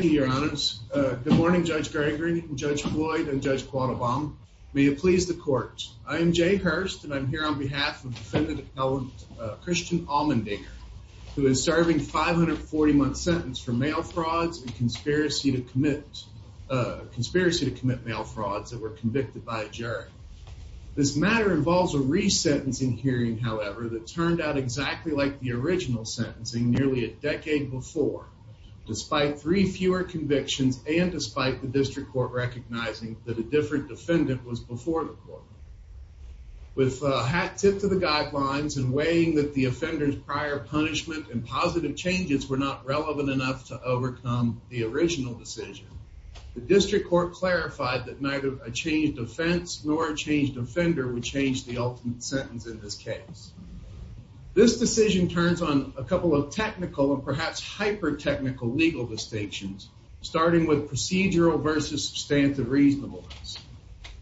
Good morning, Judge Geringer, Judge Floyd, and Judge Quattlebaum. May it please the court. I am Jay Hurst and I'm here on behalf of defendant-appellant Christian Allmendinger, who is serving a 540-month sentence for mail frauds and conspiracy to commit mail frauds that were convicted by a jury. This matter involves a re-sentencing hearing, however, that turned out exactly like the original sentencing, nearly a decade before, despite three fewer convictions and despite the district court recognizing that a different defendant was before the court. With a hat-tip to the guidelines and weighing that the offender's prior punishment and positive changes were not relevant enough to overcome the original decision, the district court clarified that neither a changed offense nor a changed offender would change the ultimate The decision turns on a couple of technical and perhaps hyper-technical legal distinctions, starting with procedural versus substantive reasonableness.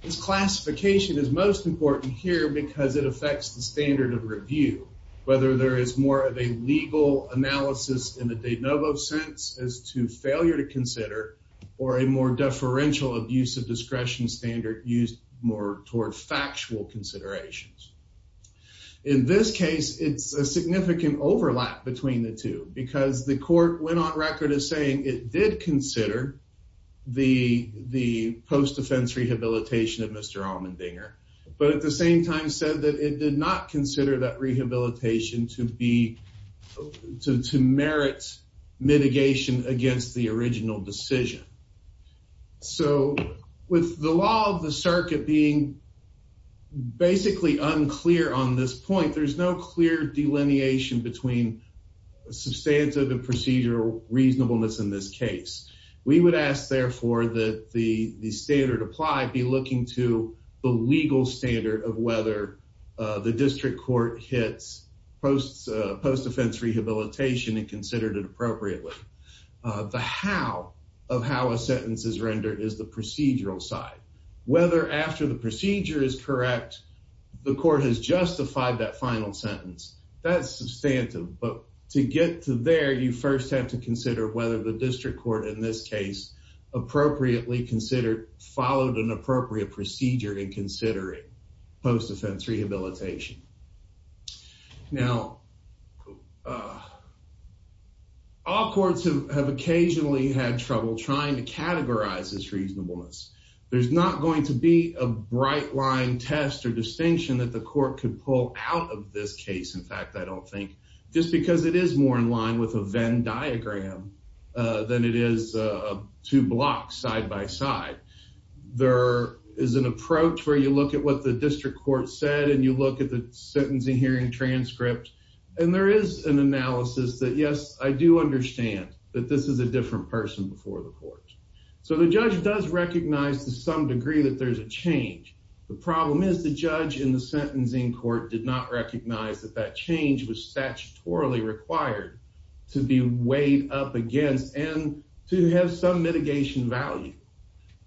This classification is most important here because it affects the standard of review, whether there is more of a legal analysis in the de novo sense as to failure to consider, or a more deferential abuse of discretion standard used more toward factual considerations. In this case, it's a significant overlap between the two because the court went on record as saying it did consider the post-offense rehabilitation of Mr. Allmendinger, but at the same time said that it did not consider that rehabilitation to merit mitigation against the original decision. So, with the law of the circuit being basically unclear on this point, there's no clear delineation between substantive and procedural reasonableness in this case. We would ask, therefore, that the standard applied be looking to the legal standard of whether the district court hits post-offense rehabilitation and considered it appropriately. The how of how a sentence is rendered is the procedural side. Whether after the procedure is correct, the court has justified that final sentence, that's substantive. But to get to there, you first have to consider whether the district court, in this case, followed an appropriate procedure in considering post-offense rehabilitation. Now, all courts have occasionally had trouble trying to categorize this reasonableness. There's not going to be a bright line test or distinction that the court could pull out of this case, in fact, I don't think, just because it is more in line with a Venn diagram than it is two blocks side by side. There is an approach where you look at what the district court said and you look at the sentencing hearing transcript and there is an analysis that, yes, I do understand that this is a different person before the court. So, the judge does recognize to some degree that there's a change. The problem is the judge in the sentencing court did not recognize that that change was statutorily required to be weighed up against and to have some mitigation value.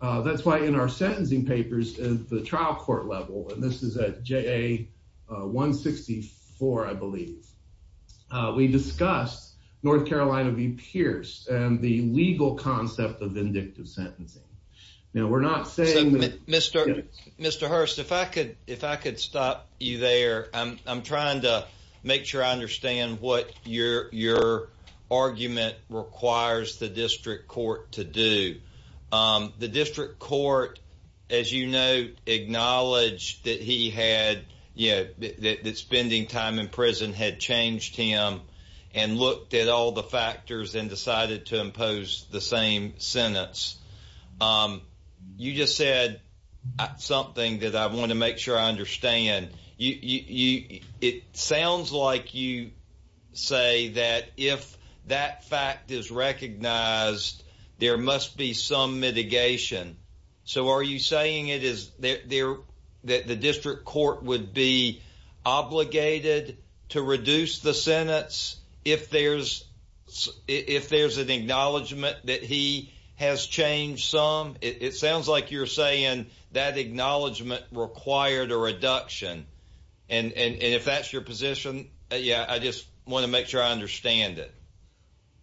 That's why in our sentencing papers at the trial court level, and this is at JA 164, I believe, we discussed North Carolina v. Pierce and the legal concept of vindictive sentencing. Now, we're not saying that... Mr. Hurst, if I could stop you there. I'm trying to make sure I understand what your argument requires the district court to do. The district court, as you know, acknowledged that spending time in prison had changed him and looked at all the factors and decided to impose the same sentence. You just said something that I want to make sure I understand. It sounds like you say that if that fact is a mitigation. So, are you saying that the district court would be obligated to reduce the sentence if there's an acknowledgment that he has changed some? It sounds like you're saying that acknowledgment required a reduction. If that's your position, I just want to make sure I understand it.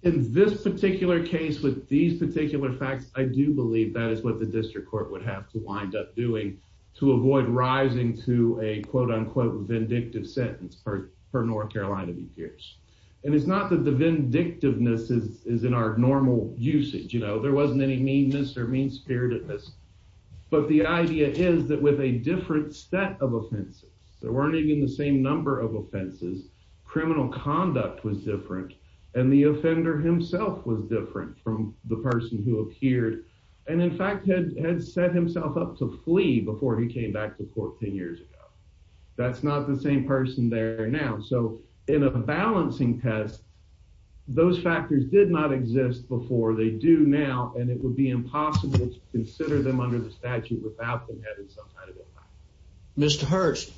In this particular case with these particular facts, I do believe that is what the district court would have to wind up doing to avoid rising to a quote-unquote vindictive sentence for North Carolina v. Pierce. And it's not that the vindictiveness is in our normal usage. You know, there wasn't any meanness or mean-spiritedness, but the idea is that with a different set of offenses, there weren't even the same number of offenses, criminal conduct was different, and the offender himself was different from the person who appeared and, in fact, had set himself up to flee before he came back to court 10 years ago. That's not the same person there now. So, in a balancing test, those factors did not exist before. They do now, and it would be impossible to consider them under the statute without them having some kind of impact. Mr. Hurst,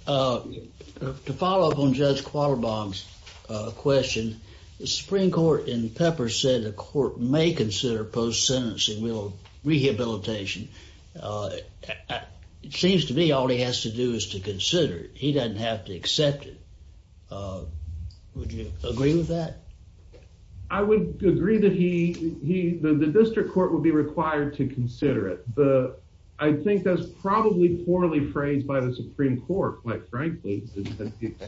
to follow up on Judge Quattlebaum's question, the Supreme Court in Pepper said the court may consider post-sentencing rehabilitation. It seems to me all he has to do is to consider it. He doesn't have to accept it. Would you agree with that? I would agree that the district court would be required to consider it, but I think that's probably poorly phrased by the Supreme Court, quite frankly. It's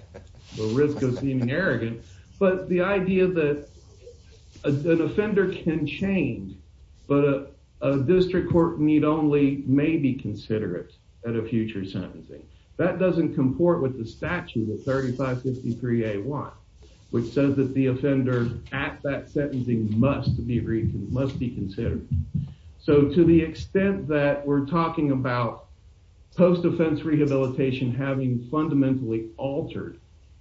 a risk of seeming arrogant, but the idea that an offender can change, but a district court need only may be considerate at a future sentencing, that doesn't comport with the statute of 3553A1, which says that the offender at that sentencing must be considered. So, to the extent that we're talking about post-offense rehabilitation having fundamentally altered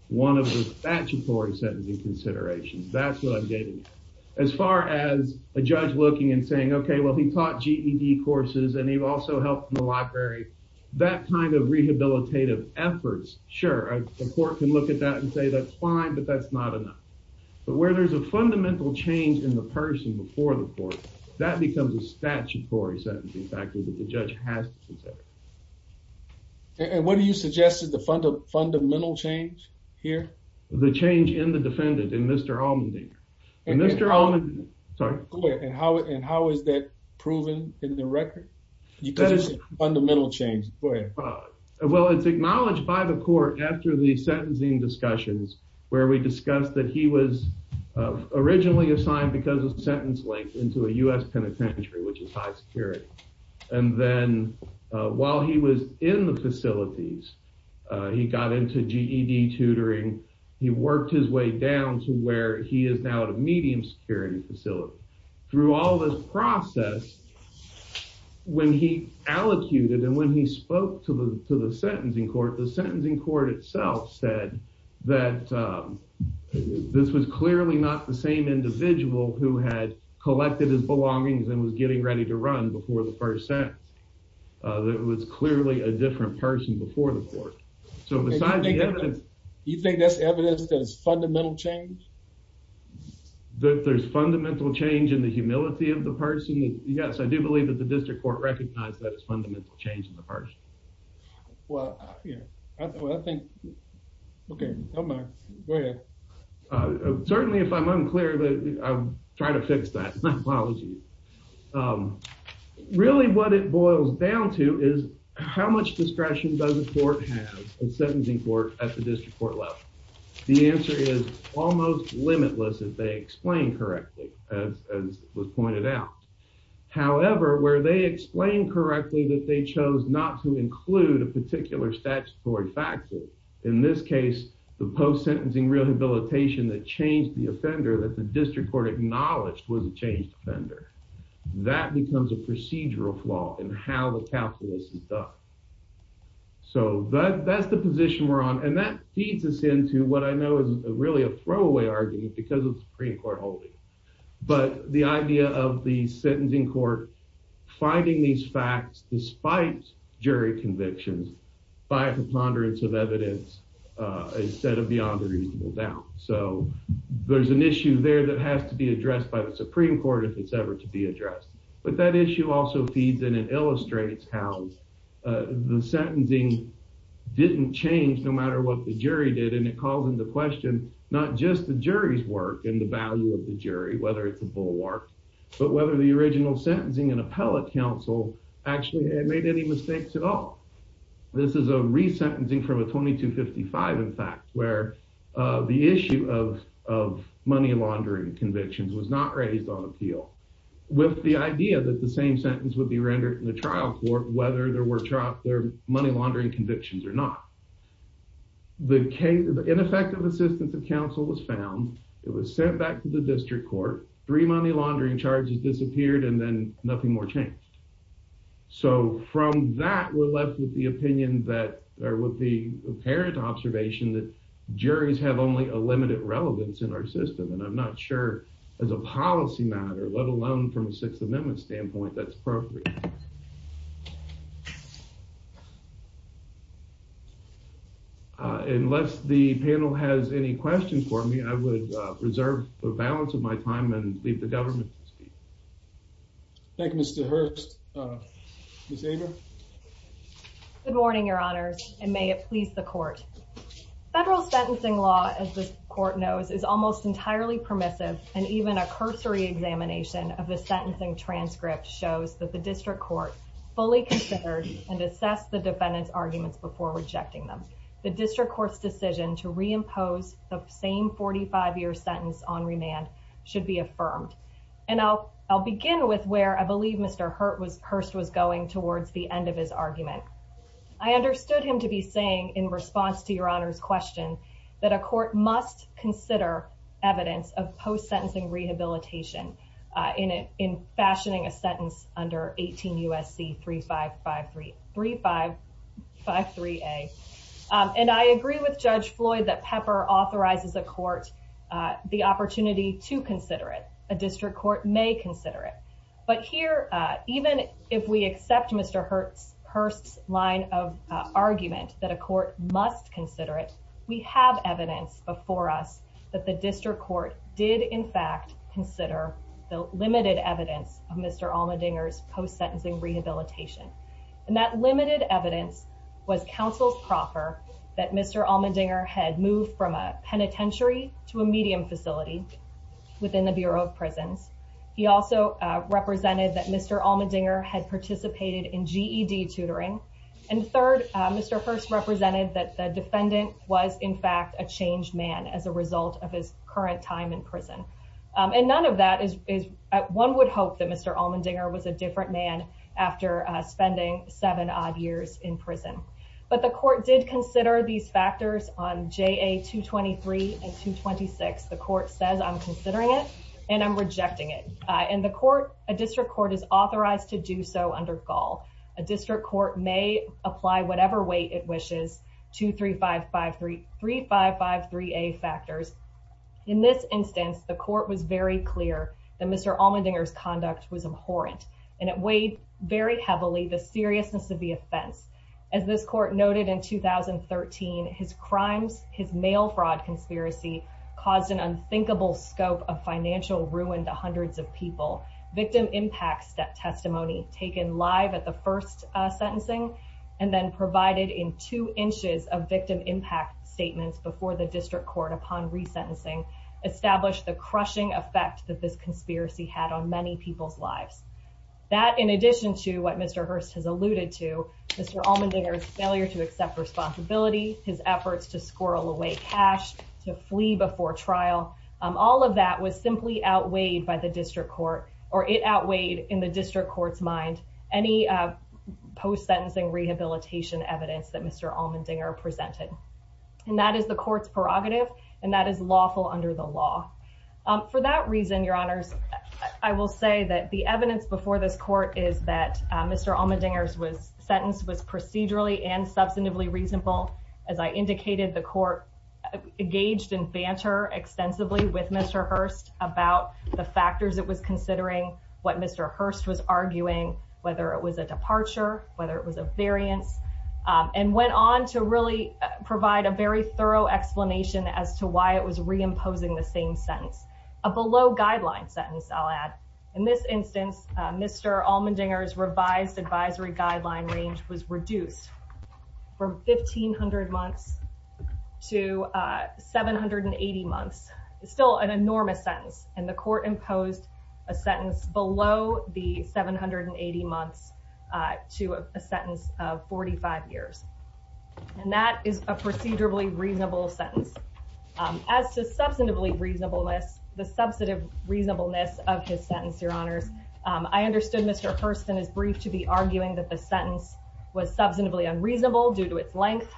one of the statutory sentencing considerations, that's what I'm getting at. As far as a judge looking and saying, okay, well, he taught GED courses, and he also helped in the library, that kind of rehabilitative efforts, sure, the court can look at that and say that's fine, but that's not enough. But where there's a fundamental change in the person before the statute, the judge has to consider it. And what do you suggest is the fundamental change here? The change in the defendant, in Mr. Allmendinger. And how is that proven in the record? Because it's a fundamental change, go ahead. Well, it's acknowledged by the court after the sentencing discussions, where we discussed that he was originally assigned because of and then while he was in the facilities, he got into GED tutoring, he worked his way down to where he is now at a medium security facility. Through all this process, when he allocated and when he spoke to the sentencing court, the sentencing court itself said that this was clearly not the that it was clearly a different person before the court. So besides the evidence... You think that's evidence that it's fundamental change? That there's fundamental change in the humility of the person? Yes, I do believe that the district court recognized that it's fundamental change in the person. Well, yeah, I think, okay, go ahead. Certainly, if I'm unclear, I'll try to fix that. My apologies. Really, what it boils down to is how much discretion does a court have, a sentencing court at the district court level? The answer is almost limitless if they explain correctly, as was pointed out. However, where they explain correctly that they chose not to include a habilitation that changed the offender that the district court acknowledged was a changed offender, that becomes a procedural flaw in how the calculus is done. So that's the position we're on. And that feeds us into what I know is really a throwaway argument because of the Supreme Court holding. But the idea of the sentencing court finding these facts despite jury convictions by a preponderance of evidence instead of beyond a reasonable doubt. So there's an issue there that has to be addressed by the Supreme Court if it's ever to be addressed. But that issue also feeds in and illustrates how the sentencing didn't change no matter what the jury did. And it calls into question not just the jury's work and the value of the jury, whether it's a bulwark, but whether the original sentencing and appellate counsel actually had made any mistakes at all. This is a re-sentencing from a 2255, in fact, where the issue of money laundering convictions was not raised on appeal with the idea that the same sentence would be rendered in the trial court whether there were money laundering convictions or not. The ineffective assistance of counsel was found. It was sent back to the district court. Three money laundering charges disappeared and then nothing more changed. So from that, we're left with the opinion that, or with the apparent observation that juries have only a limited relevance in our system. And I'm not sure as a policy matter, let alone from a Sixth Amendment standpoint, that's appropriate. Unless the panel has any questions for me, I would reserve the balance of my time and leave the government to speak. Thank you, Mr. Hurst. Ms. Agar? Good morning, Your Honors, and may it please the court. Federal sentencing law, as this court knows, is almost entirely permissive, and even a cursory examination of the sentencing transcript shows that the district court has not been able to fully consider and assess the defendant's arguments before rejecting them. The district court's decision to reimpose the same 45-year sentence on remand should be affirmed. And I'll begin with where I believe Mr. Hurst was going towards the end of his argument. I understood him to be saying, in response to Your Honor's question, that a court must consider evidence of U.S.C. 3553A. And I agree with Judge Floyd that Pepper authorizes a court the opportunity to consider it. A district court may consider it. But here, even if we accept Mr. Hurst's line of argument that a court must consider it, we have evidence before us that the district court did, in fact, consider the limited evidence of Mr. Allmendinger's post-sentencing rehabilitation. And that limited evidence was counsel's proffer that Mr. Allmendinger had moved from a penitentiary to a medium facility within the Bureau of Prisons. He also represented that Mr. Allmendinger had participated in GED tutoring. And third, Mr. Hurst represented that the defendant was, in fact, a changed man as a result of his current time in prison. And none of that is, one would hope that Mr. Allmendinger was a different man after spending seven odd years in prison. But the court did consider these factors on JA 223 and 226. The court says, I'm considering it and I'm rejecting it. And the court, a district court, is authorized to do so under Gaul. A district court may apply whatever way it wishes, 23553A factors. In this instance, the court was very clear that Mr. Allmendinger's conduct was abhorrent and it weighed very heavily the seriousness of the offense. As this court noted in 2013, his crimes, his mail fraud conspiracy caused an unthinkable scope of financial ruin to hundreds of people. Victim impact testimony taken live at the first sentencing and then provided in two inches of victim impact statements before the district court upon resentencing established the crushing effect that this conspiracy had on many people's lives. That, in addition to what Mr. Hurst has alluded to, Mr. Allmendinger's failure to accept responsibility, his efforts to squirrel away cash, to flee before trial, all of that was simply outweighed by the district court or it outweighed in the district court's mind any post-sentencing rehabilitation evidence that Mr. Allmendinger presented. And that is the court's prerogative and that is lawful under the law. For that reason, your honors, I will say that the evidence before this court is that Mr. Allmendinger's sentence was procedurally and substantively reasonable. As I indicated, the court engaged in banter extensively with Mr. Hurst about the factors it was considering, what Mr. Hurst was arguing, whether it was a departure, whether it was a variance, and went on to really provide a very thorough explanation as to why it was reimposing the same sentence. A below guideline sentence, I'll add. In this instance, Mr. Allmendinger's sentence was from 1,700 months to 780 months. It's still an enormous sentence and the court imposed a sentence below the 780 months to a sentence of 45 years. And that is a procedurally reasonable sentence. As to substantively reasonableness, the substantive reasonableness of his sentence, your honors, I understood Mr. Hurst in his brief to be arguing that the sentence was substantively unreasonable due to its length.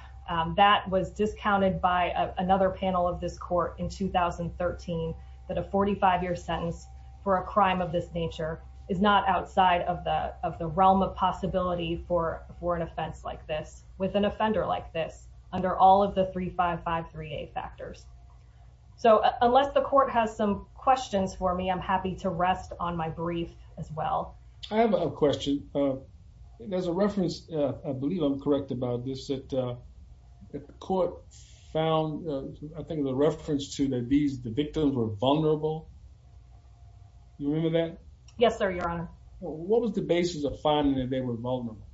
That was discounted by another panel of this court in 2013, that a 45-year sentence for a crime of this nature is not outside of the realm of possibility for an offense like this with an offender like this under all of the 3553A factors. So unless the court has some questions for me, I'm happy to rest on my brief as well. I have a question. There's a reference, I believe I'm correct about this, that the court found, I think the reference to that these, the victims were vulnerable. You remember that? Yes, sir, your honor. What was the basis of finding that they were vulnerable?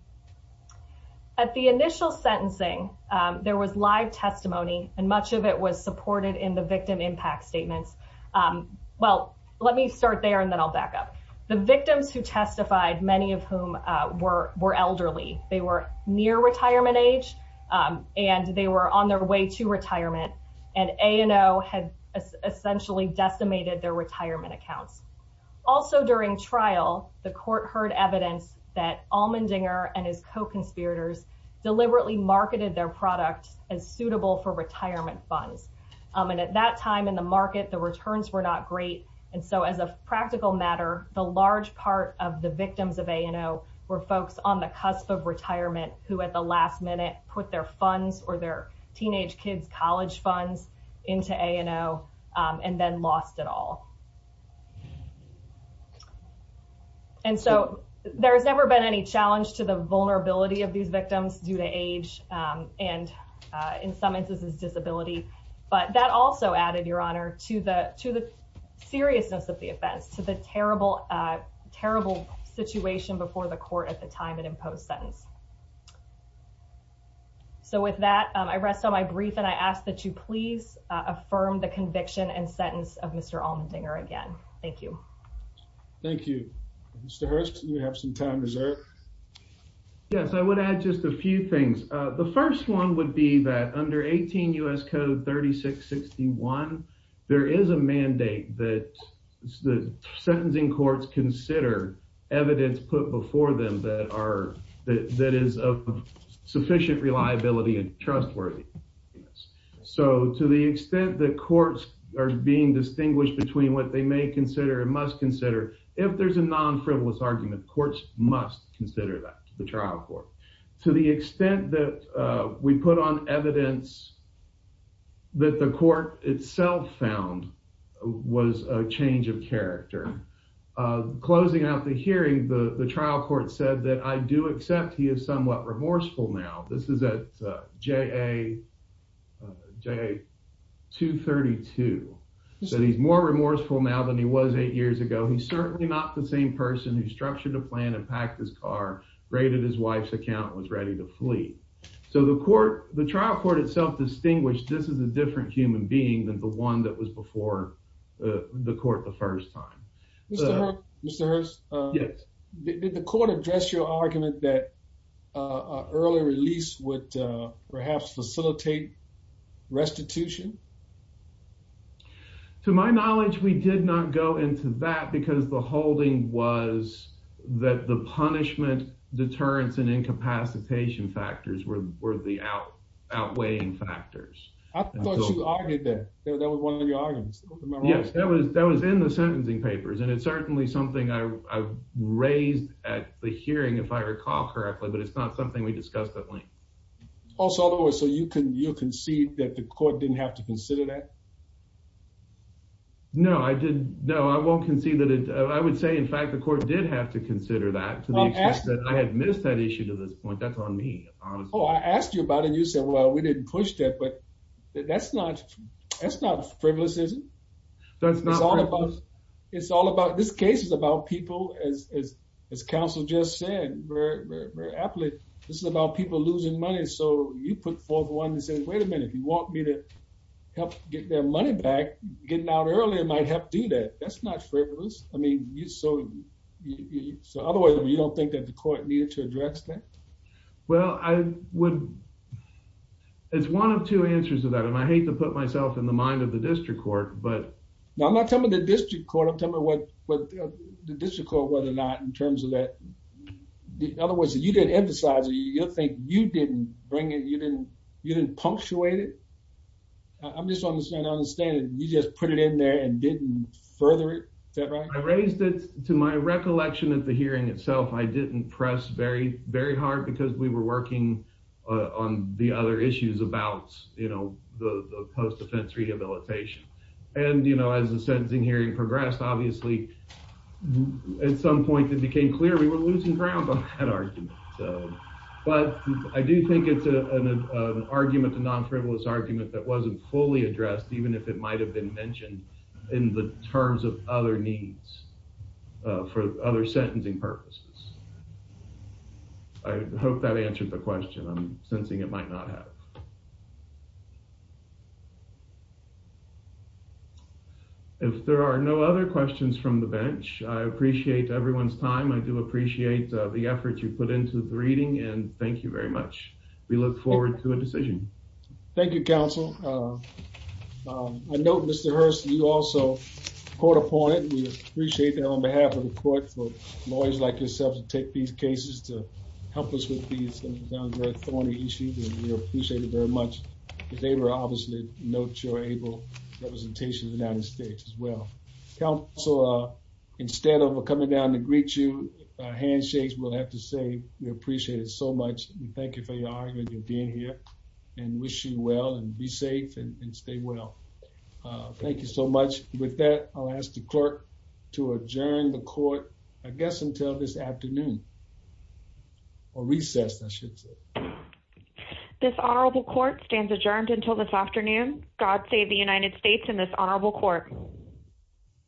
At the initial sentencing, there was live testimony and much of it was supported in the victim impact statements. Well, let me start there and then I'll back up. The victims who testified, many of whom were were elderly, they were near retirement age and they were on their way to retirement and A&O had essentially decimated their retirement accounts. Also during trial, the court heard evidence that Allmendinger and his co-conspirators deliberately marketed their product as suitable for retirement funds. And at that time in the large part of the victims of A&O were folks on the cusp of retirement who at the last minute put their funds or their teenage kids college funds into A&O and then lost it all. And so there has never been any challenge to the vulnerability of these victims due to age and in some instances disability. But that also added, your honor, to the seriousness of the a terrible situation before the court at the time and in post sentence. So with that, I rest on my brief and I ask that you please affirm the conviction and sentence of Mr. Allmendinger again. Thank you. Thank you. Mr. Hurst, you have some time reserved. Yes, I would add just a few things. The first one would be that under 18 U.S. Code 3661, there is a mandate that sentencing courts consider evidence put before them that is of sufficient reliability and trustworthiness. So to the extent that courts are being distinguished between what they may consider and must consider, if there's a non-frivolous argument, courts must consider that to the trial court. To the extent that we put on evidence that the court itself found was a change of character, closing out the hearing, the trial court said that I do accept he is somewhat remorseful now. This is at JA232. So he's more remorseful now than he was eight years ago. He's certainly not the same person who structured a packed his car, raided his wife's account, was ready to flee. So the trial court itself distinguished this is a different human being than the one that was before the court the first time. Mr. Hurst, did the court address your argument that an early release would perhaps facilitate restitution? To my knowledge, we did not go into that because the holding was that the punishment, deterrence, and incapacitation factors were the outweighing factors. I thought you argued that. That was one of your arguments. Yes, that was in the sentencing papers. And it's certainly something I raised at the hearing, if I recall correctly, but it's not something we discussed at length. So you concede that the court didn't have to consider that? No, I did. No, I won't concede that. I would say, in fact, the court did have to consider that to the extent that I had missed that issue to this point. That's on me, honestly. Oh, I asked you about it. You said, well, we didn't push that. But that's not frivolous, is it? That's not frivolous. It's all about, this case is about people, as counsel just said very, very, very aptly. This is about people losing money. So you put forth one that says, wait a minute, you want me to help get their money back, getting out earlier might help do that. That's not frivolous. I mean, so otherwise, you don't think that the court needed to address that? Well, I would. It's one of two answers to that. And I hate to put myself in the mind of the district court, but. No, I'm not telling the district court. I'm telling the district court whether or not in terms of that. In other words, if you didn't emphasize it, you'll think you didn't bring it, you didn't punctuate it. I'm just trying to understand, you just put it in there and didn't further it. Is that right? I raised it to my recollection at the hearing itself. I didn't press very, very hard because we were working on the other issues about, you know, the post-defense rehabilitation. And, you know, as the sentencing hearing progressed, obviously, at some point it became clear we were losing ground on that argument. But I do think it's an argument, a non-frivolous argument that wasn't fully addressed, even if it might have been mentioned in the terms of other needs for other sentencing purposes. I hope that answered the question. I'm sensing it might not have. If there are no other questions from the bench, I appreciate everyone's time. I do appreciate the effort you put into the reading, and thank you very much. We look forward to a decision. Thank you, counsel. I note, Mr. Hurst, you also caught up on it. We appreciate that on behalf of the court for lawyers like yourself to take these cases to help us with these, it's going to sound very thorny issues, and we appreciate it very much. Because they were obviously, note your able representation in the United States as well. Counsel, instead of coming down to greet you, handshakes, we'll have to say we appreciate it so much. Thank you for your argument and being here, and wish you well, and be safe, and stay well. Thank you so much. With that, I'll ask the clerk to adjourn the court, I guess until this afternoon, or recess, I should say. This honorable court stands adjourned until this afternoon. God save the United States and this honorable court.